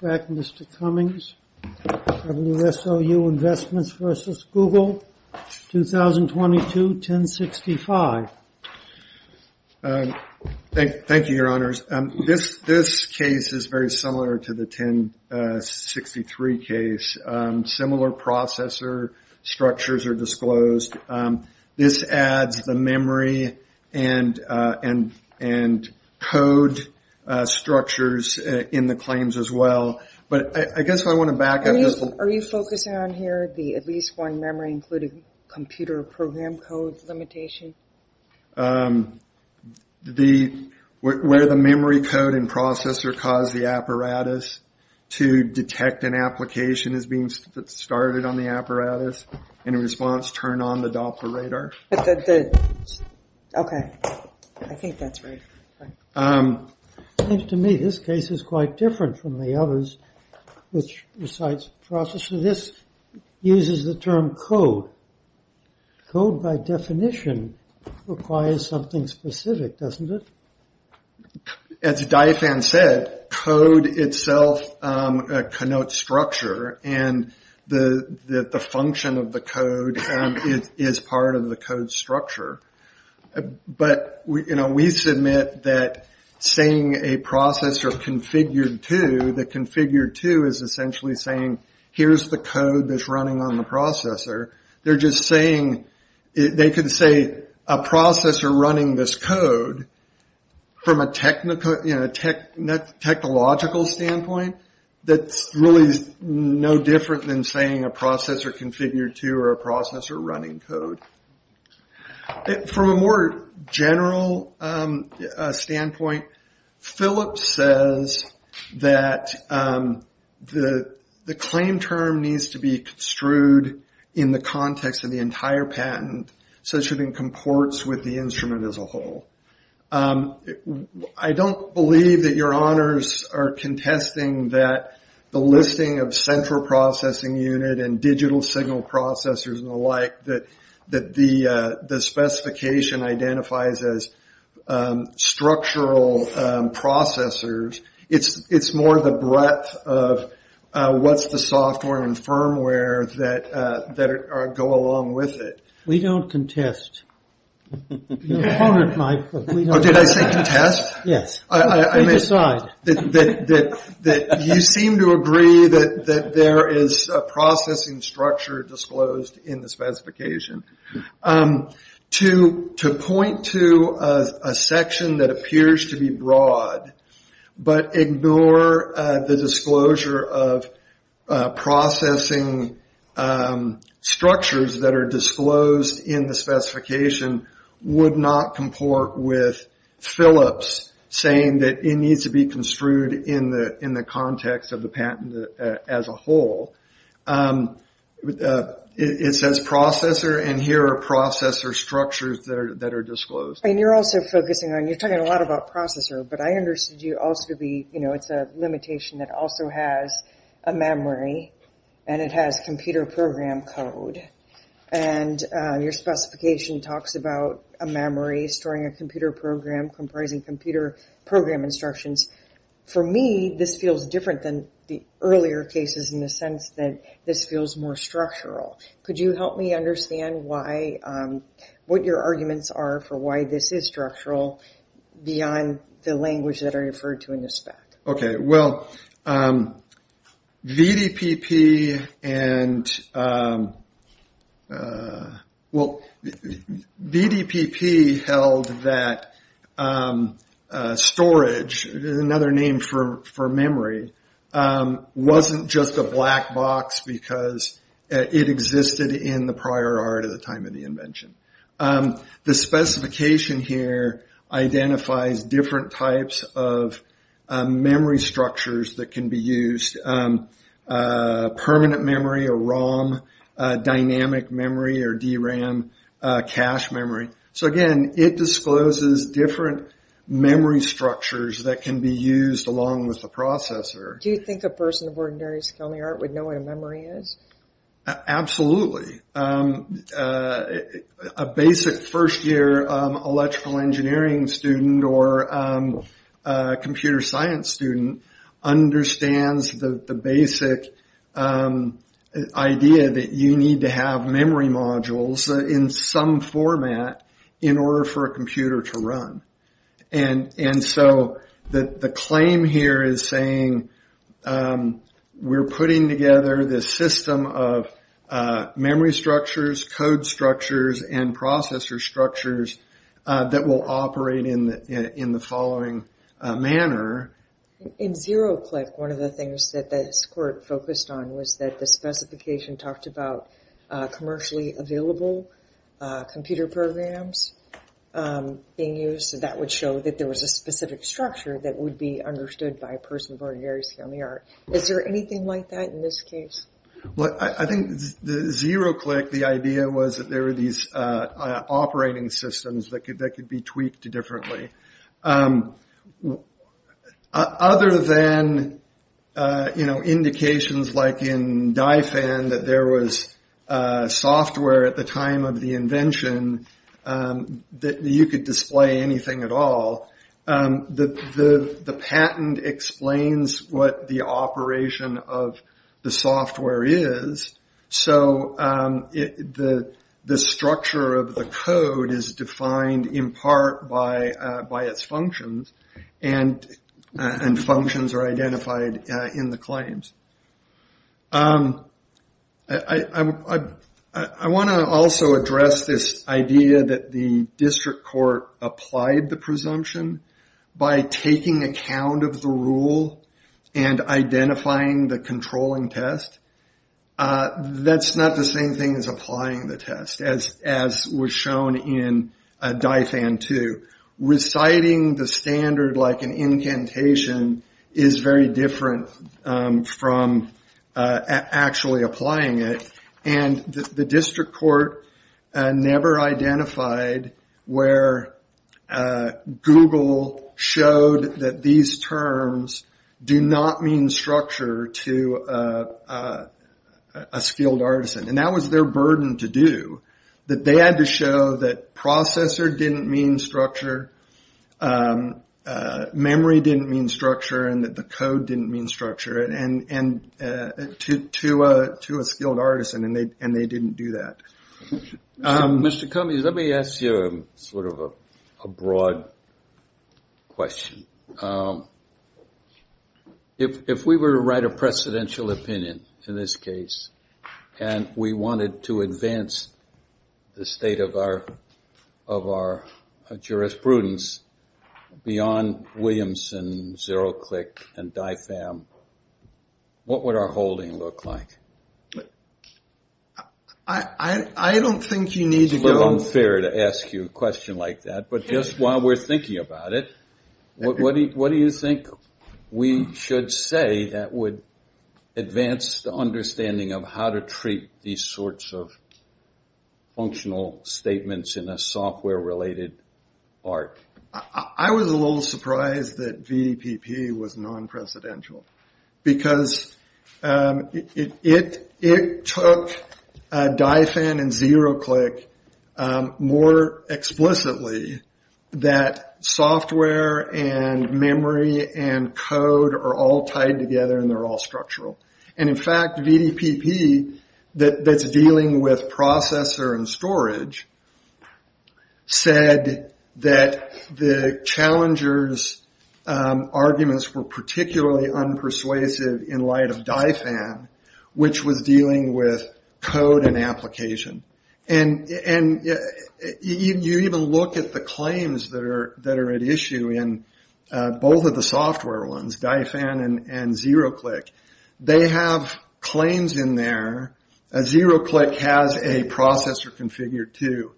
Mr. Cummings, WSOU Investments versus Google 2022 1065. Thank you, your honors. This case is very similar to the 1063 case. Similar processor structures are disclosed. This adds the memory and code structures in the claims as well. But I guess I want to back up. Are you focusing on here the at least one memory including computer program code limitation? The where the memory code and processor cause the apparatus to detect an application as being started on the apparatus and in response turn on the others which recites processor. This uses the term code. Code by definition requires something specific, doesn't it? As Diophan said, code itself connotes structure and the the function of the code is part of the code structure. But we submit that saying a processor configured to, the configured to is essentially saying here's the code that's running on the processor. They're just saying they could say a processor running this code from a technological standpoint that's really no different than saying a processor. From a more general standpoint, Phillips says that the claim term needs to be construed in the context of the entire patent such that it comports with the instrument as a whole. I don't believe that your honors are contesting that the listing of central processing unit and digital signal processors and the like that the specification identifies as structural processors. It's more the breadth of what's the software and firmware that go along with it. We don't contest. You seem to agree that there is a processing structure disclosed in the specification. To point to a section that appears to be broad but ignore the disclosure of processing structures that are disclosed in the specification would not comport with Phillips saying that it needs to be construed in the context of the patent as a whole. It says processor and here are processor structures that are disclosed. And you're also focusing on, you're talking a lot about processor, but I understood you also be, you know, it's a limitation that also has a memory and it has computer program code and your specification talks about a memory storing a computer program comprising computer program instructions. For me this feels different than the earlier cases in the sense that this feels more structural. Could you help me understand why, what your arguments are for why this is structural beyond the language that are name for memory wasn't just a black box because it existed in the prior art of the time of the invention. The specification here identifies different types of memory structures that can be used. Permanent memory or ROM, dynamic memory or DRAM, cache memory. So again it discloses different memory structures that can be used along with the processor. Do you think a person of ordinary skill in the art would know what a memory is? Absolutely. A basic first year electrical engineering student or computer science student understands the basic idea that you need to have memory modules in some format in order for a computer to run. And so the claim here is saying we're putting together this system of memory structures, code structures, and processor structures that will operate in the following manner. In ZeroClick one of the things that this court focused on was that the specification talked about commercially available computer programs being used. That would show that there was a specific structure that would be understood by a person of ordinary skill in the art. Is there anything like that in this case? I think in ZeroClick the idea was that there could be tweaked differently. Other than indications like in DiFan that there was software at the time of the invention that you could display anything at all, the patent explains what the operation of the software is. So the structure of the code is defined in part by its functions and functions are identified in the claims. I want to also address this idea that the district court applied the presumption by taking account of the rule and identifying the controlling test. That's not the same thing as applying the test as was shown in DiFan 2. Reciting the standard like an incantation is very different from actually applying it and the district court never identified where Google showed that these terms do not mean structure to a skilled artisan. That was their burden to do. They had to show that processor didn't mean structure, memory didn't mean structure, and that the code didn't mean structure to a skilled artisan and they didn't do that. Mr. Cummings, let me ask you a broad question. If we were to write a precedential opinion in this case and we wanted to advance the state of our jurisprudence beyond Williamson, Zeroclick, and DiFan, what would our holding look like? I don't think you need to go... It's a little unfair to ask you a question like that, but just while we're here, what do you think we should say that would advance the understanding of how to treat these sorts of functional statements in a software related art? I was a little surprised that VPP was and code are all tied together and they're all structural. In fact, VPP that's dealing with processor and storage said that the challenger's arguments were particularly unpersuasive in light of DiFan, which was both of the software ones, DiFan and Zeroclick. They have claims in there. Zeroclick has a processor configured to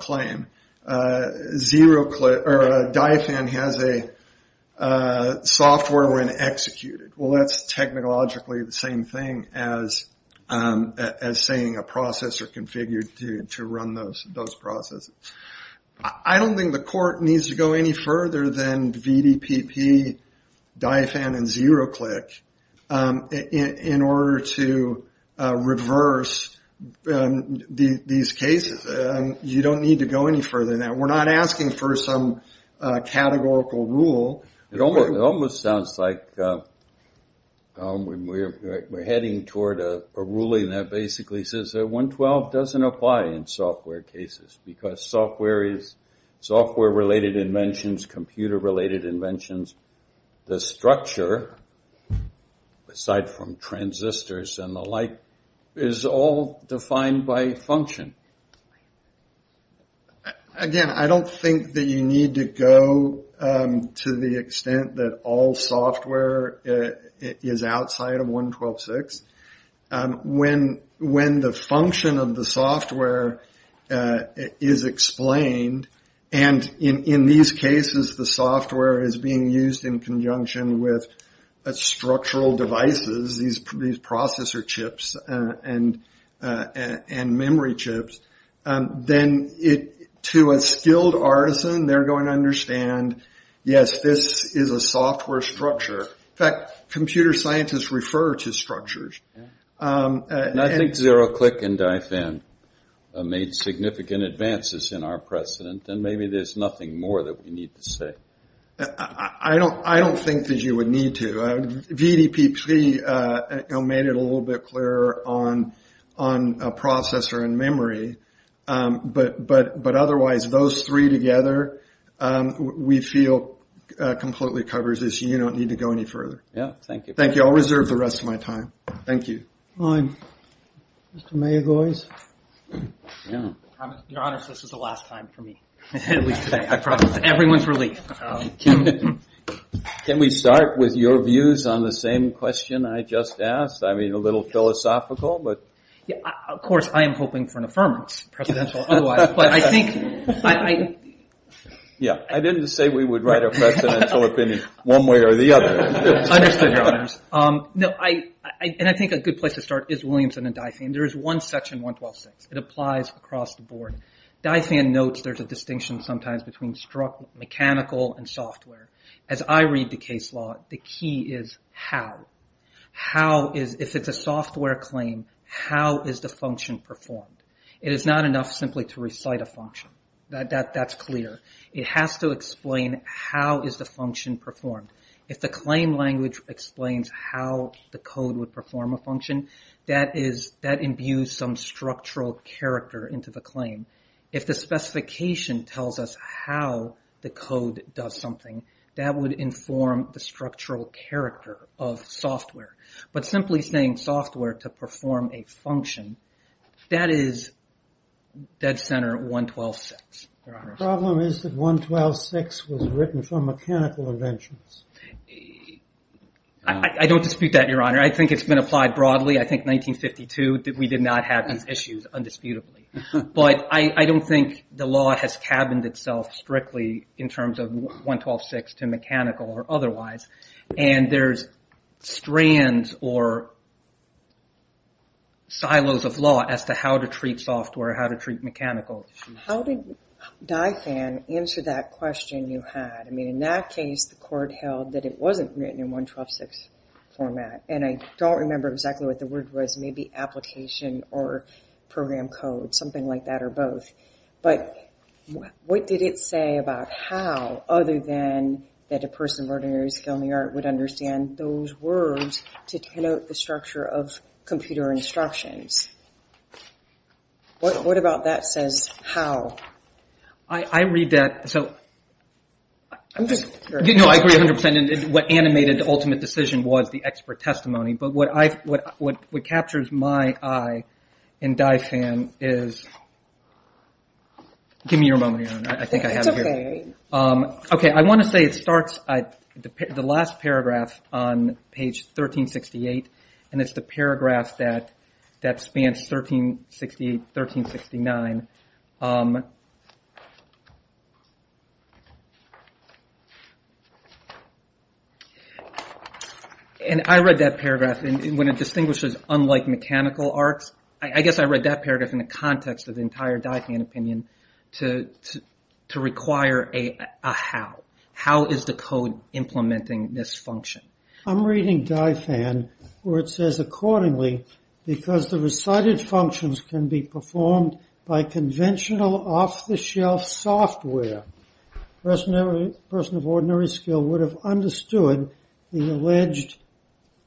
claim. DiFan has a software when executed. That's technologically the same thing as saying a court needs to go any further than VDPP, DiFan, and Zeroclick in order to reverse these cases. You don't need to go any further than that. We're not asking for some categorical rule. It almost sounds like we're heading toward a ruling that basically says that 112 doesn't apply in software cases because software related inventions, computer related inventions, the structure, aside from transistors and the like, is all defined by function. Again, I don't think that you need to go to the extent that all software is defined outside of 112.6. When the function of the software is explained, and in these cases the software is being used in conjunction with structural devices, these processor chips and memory chips, then to a skilled artisan they're going to understand, yes, this is a software structure. In fact, computer scientists refer to structures. I think Zeroclick and DiFan made significant advances in our precedent. Maybe there's nothing more that we need to say. I don't think that you would need to. VDPP made it a little bit clearer on processor and memory, but otherwise those three together we feel completely covers this. You don't need to go any further. Thank you. I'll reserve the rest of my time. Thank you. Mr. Mayergoys. Your Honor, this is the last time for me. Everyone's relief. Can we start with your views on the same question I just asked? I mean, a little philosophical. Of course, I am hoping for an affirmance. I didn't say we would write a And I think a good place to start is Williamson and DiFan. There is one section, 1126. It applies across the board. DiFan notes there's a distinction sometimes between mechanical and software. As I read the case law, the key is how. If it's a software claim, how is the function performed? It is not enough simply to recite a function. That's clear. It has to explain how is the function performed. If the claim language explains how the code would perform a function, that imbues some structural character into the claim. If the specification tells us how the code does something, that would inform the structural character of software. But simply saying software to perform a function, that is dead center 1126. The problem is that 1126 was written for mechanical inventions. I don't dispute that, Your Honor. I think it's been applied broadly. I think 1952, we did not have these issues undisputably. But I don't think the law has cabined itself strictly in terms of 1126 to mechanical or otherwise. And there's strands or silos of law as to how to treat software, how to treat mechanical. How did Dye Fan answer that question you had? In that case, the court held that it wasn't written in 1126 format. And I don't remember exactly what the word was, maybe application or program code, something like that or both. But what did it say about how, other than that a person of ordinary skill in the art would understand those words to denote the structure of computer instructions? What about that says how? I read that. I agree 100%. What animated the ultimate decision was the expert testimony. But what captures my eye in Dye Fan is... Give me your moment, Your Honor. I think I have it here. I want to say it starts at the last paragraph on page 1368. And it's the paragraph that spans 1368-1369. And I read that paragraph when it distinguishes unlike mechanical arts. I guess I read that paragraph in the context of the entire Dye Fan opinion to require a how. How is the code implementing this function? I'm reading Dye Fan where it says accordingly, because the recited functions can be performed by conventional off-the-shelf software, a person of ordinary skill would have understood the alleged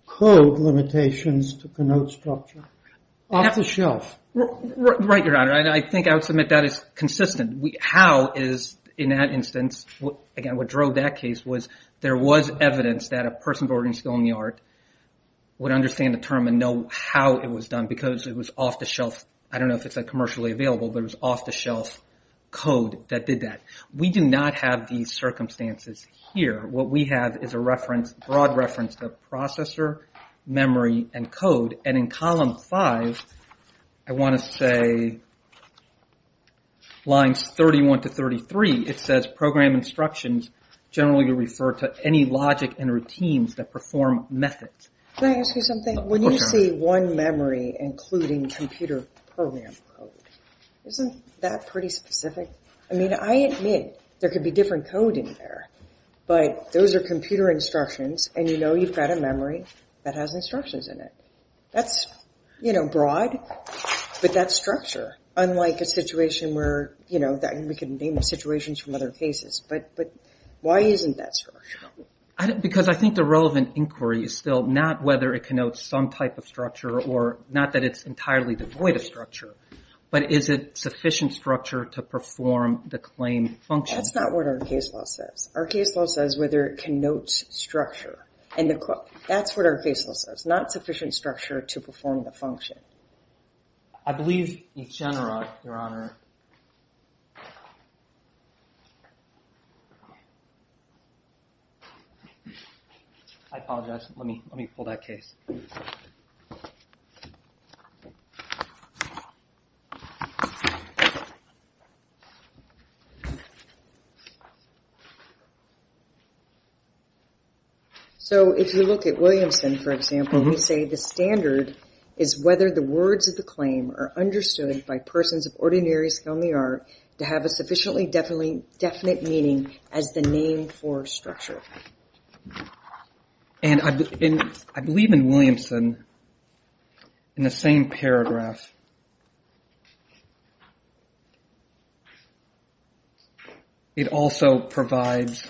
code limitations to denote structure. Off-the-shelf? Right, Your Honor. I think I would submit that is consistent. How is, in that instance, again what drove that case was there was evidence that a person of ordinary skill in the art would understand the term and know how it was done because it was off-the-shelf. I don't know if it's commercially available, but it was off-the-shelf code that did that. We do not have these circumstances here. What we have is a reference, broad reference to processor, memory, and code. And in column 5, I want to say lines 31-33, it says program instructions generally refer to any logic and routines that perform methods. Can I ask you something? When you say one memory including computer program code, isn't that pretty specific? I mean, I admit there could be different code in there, but those are computer instructions and you know you've got a memory that has instructions in it. That's, you know, broad, but that's structure. Unlike a situation where, you know, we can name situations from other cases, but why isn't that structure? Because I think the relevant inquiry is still not whether it connotes some type of structure or not that it's entirely devoid of structure, but is it sufficient structure to perform the claim function? That's not what our case law says. Our case law says whether it connotes structure, and that's what our case law says, not sufficient structure to perform the function. I believe Echenera, Your Honor. I apologize. Let me pull that case. So if you look at Williamson, for example, we say the standard is whether the words of the claim are understood by persons of ordinary skill in the art to have a sufficiently definite meaning as the name for structure. And I believe in Williamson, in the same paragraph, it also provides,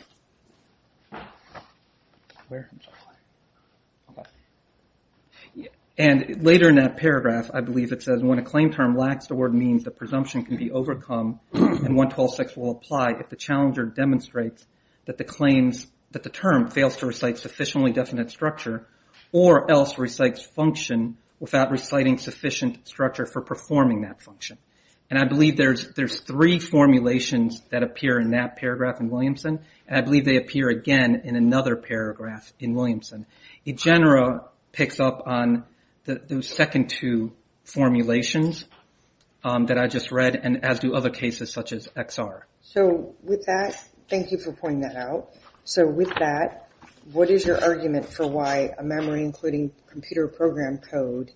and later in that paragraph, I believe it says when a claim term lacks the word means the presumption can be overcome and 1126 will apply if the challenger demonstrates that the claims, that the term fails to recite sufficiently definite structure or else recites function without reciting sufficient structure for performing that function. And I believe there's three formulations that appear in that paragraph in Williamson, and I believe they appear again in another paragraph in Williamson. Echenera picks up on those second two formulations that I just read, and as do other cases such as XR. So with that, thank you for pointing that out. So with that, what is your argument for why a memory including computer program code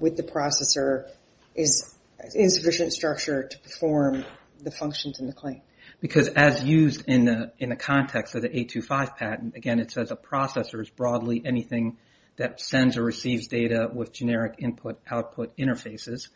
with the processor is insufficient structure to perform the functions in the claim? Because as used in the context of the 825 patent, again, it says a processor is broadly anything that sends or receives data with generic input output interfaces,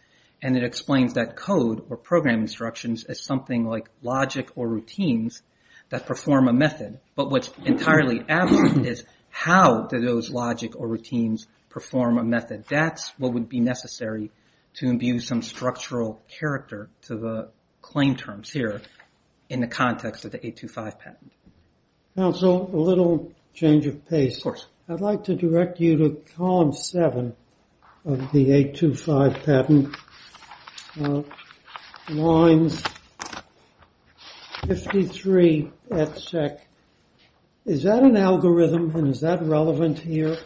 and it explains that code or program instructions is something like logic or routines that perform a method, but what's entirely absent is how do those logic or routines perform a method? That's what would be necessary to imbue some structural character to the claim terms here in the context of the 825 patent. Counsel, a little change of pace. I'd like to direct you to column seven of the 825 patent lines 53 etc. Is that an algorithm? And is that relevant here?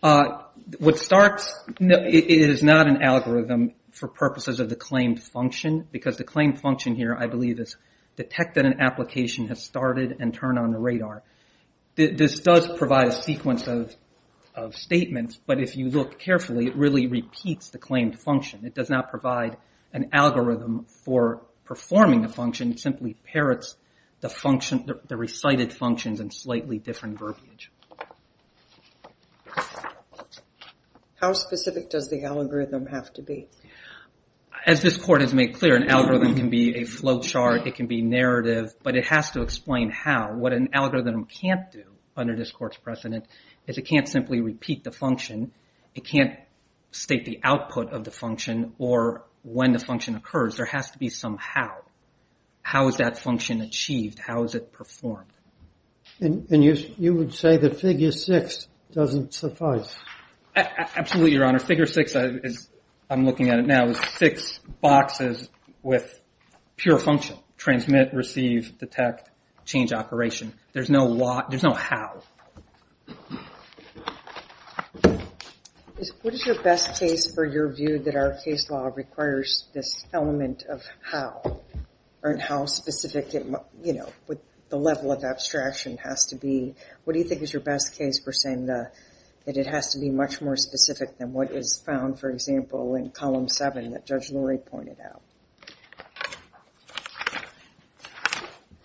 What starts is not an algorithm for purposes of the claimed function, because the claimed function here, I believe, is detect that an application has started and turn on the radar. This does provide a sequence of statements, but if you look carefully, it really repeats the claimed function. It does not provide an algorithm for performing a function. It simply parrots the function, the recited functions in slightly different verbiage. How specific does the algorithm have to be? As this court has made clear, an algorithm can be a flowchart, it can be narrative, but it has to explain how. What an algorithm can't do under this court's precedent is it can't simply repeat the function, it can't state the output of the function or when the function occurs. There has to be some how. How is that function achieved? How is it performed? And you would say that figure six doesn't suffice? Absolutely, Your Honor. Figure six, I'm looking at it now, is six boxes with pure function. Transmit, receive, detect, change operation. There's no how. What is your best case for your view that our case law requires this element of how? And how specific, you know, the level of abstraction has to be. What do you think is your best case for saying that it has to be much more specific than what is found, for example, in column seven that Judge Lurie pointed out?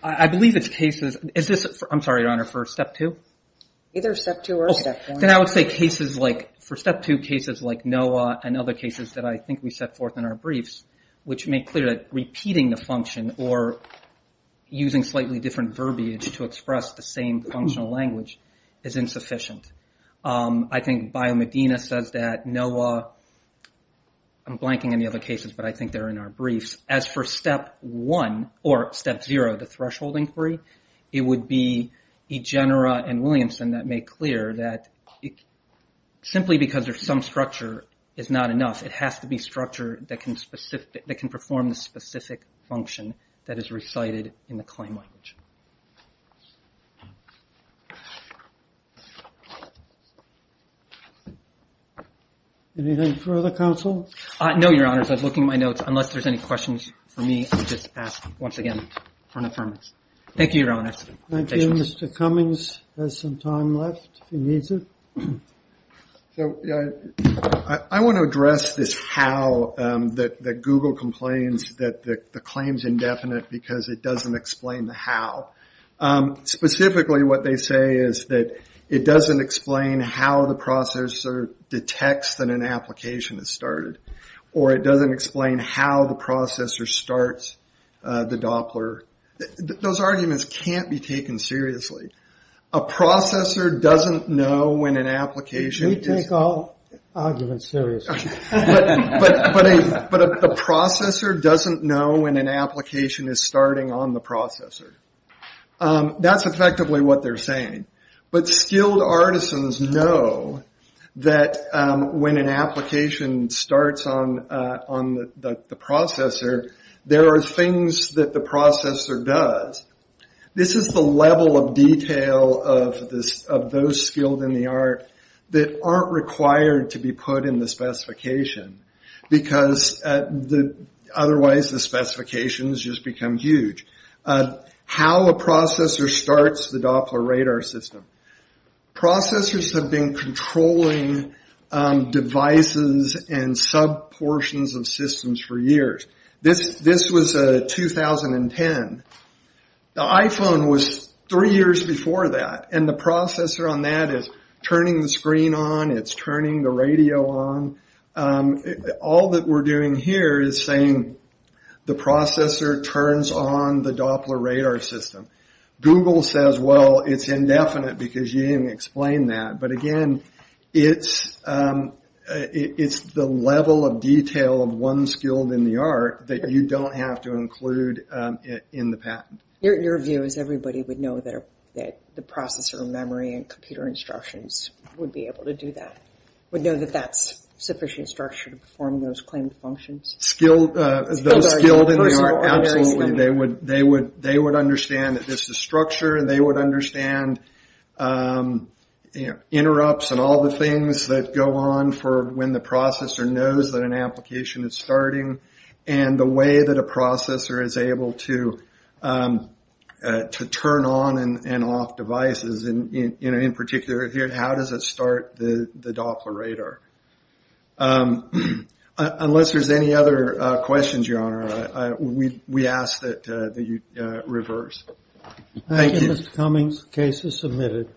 I believe it's cases, I'm sorry, Your Honor, for step two? Either step two or step one. Then I would say cases like, for step two, cases like NOAA and other cases that I think we set forth in our briefs, which make clear that repeating the function or using slightly different verbiage to express the same functional language is insufficient. I think BioMedina says that NOAA, I'm blanking on the other cases, but I think they're in our briefs. As for step one, or step zero, the threshold inquiry, it would be Egenera and Williamson that make clear that simply because there's some structure is not enough. It has to be structure that can perform the specific function that is recited in the claim language. Anything for other counsel? No, Your Honor, I was looking at my notes. Unless there's any questions for me, I'll just ask once again for an affirmation. Thank you, Your Honor. Thank you. Mr. Cummings has some time left if he needs it. I want to address this how that Google complains that the claim's indefinite because it doesn't explain the how. Specifically, what they say is that it doesn't explain how the processor detects that an application has started, or it doesn't explain how the processor starts the Doppler. Those arguments can't be taken seriously. A processor doesn't know when an application is starting on the processor. That's effectively what they're saying. Skilled artisans know that when an application starts on the processor, there are things that the processor does. This is the level of detail of those skilled in the art that aren't required to be put in the specification, because otherwise the specifications just become huge. How a processor starts the Doppler radar system. Processors have been controlling devices and sub-portions of systems for years. This was 2010. The iPhone was three years before that, and the processor on that is turning the screen on, it's turning the radio on. All that we're doing here is saying the processor turns on the Doppler radar system. Google says, well, it's indefinite because you didn't explain that. Again, it's the level of detail of one skilled in the art that you don't have to include in the patent. Your view is everybody would know that the processor memory and computer instructions would be able to do that? Would know that that's sufficient structure to perform those claimed functions? Those skilled in the art, absolutely. They would understand that this is structure, and they would understand interrupts and all the things that go on for when the processor knows that an application is starting. The way that a processor is able to turn on and off devices, in particular, how does it start the Doppler radar? Unless there's any other questions, your honor, we ask that you reverse. Thank you, Mr. Cummings. Case is submitted.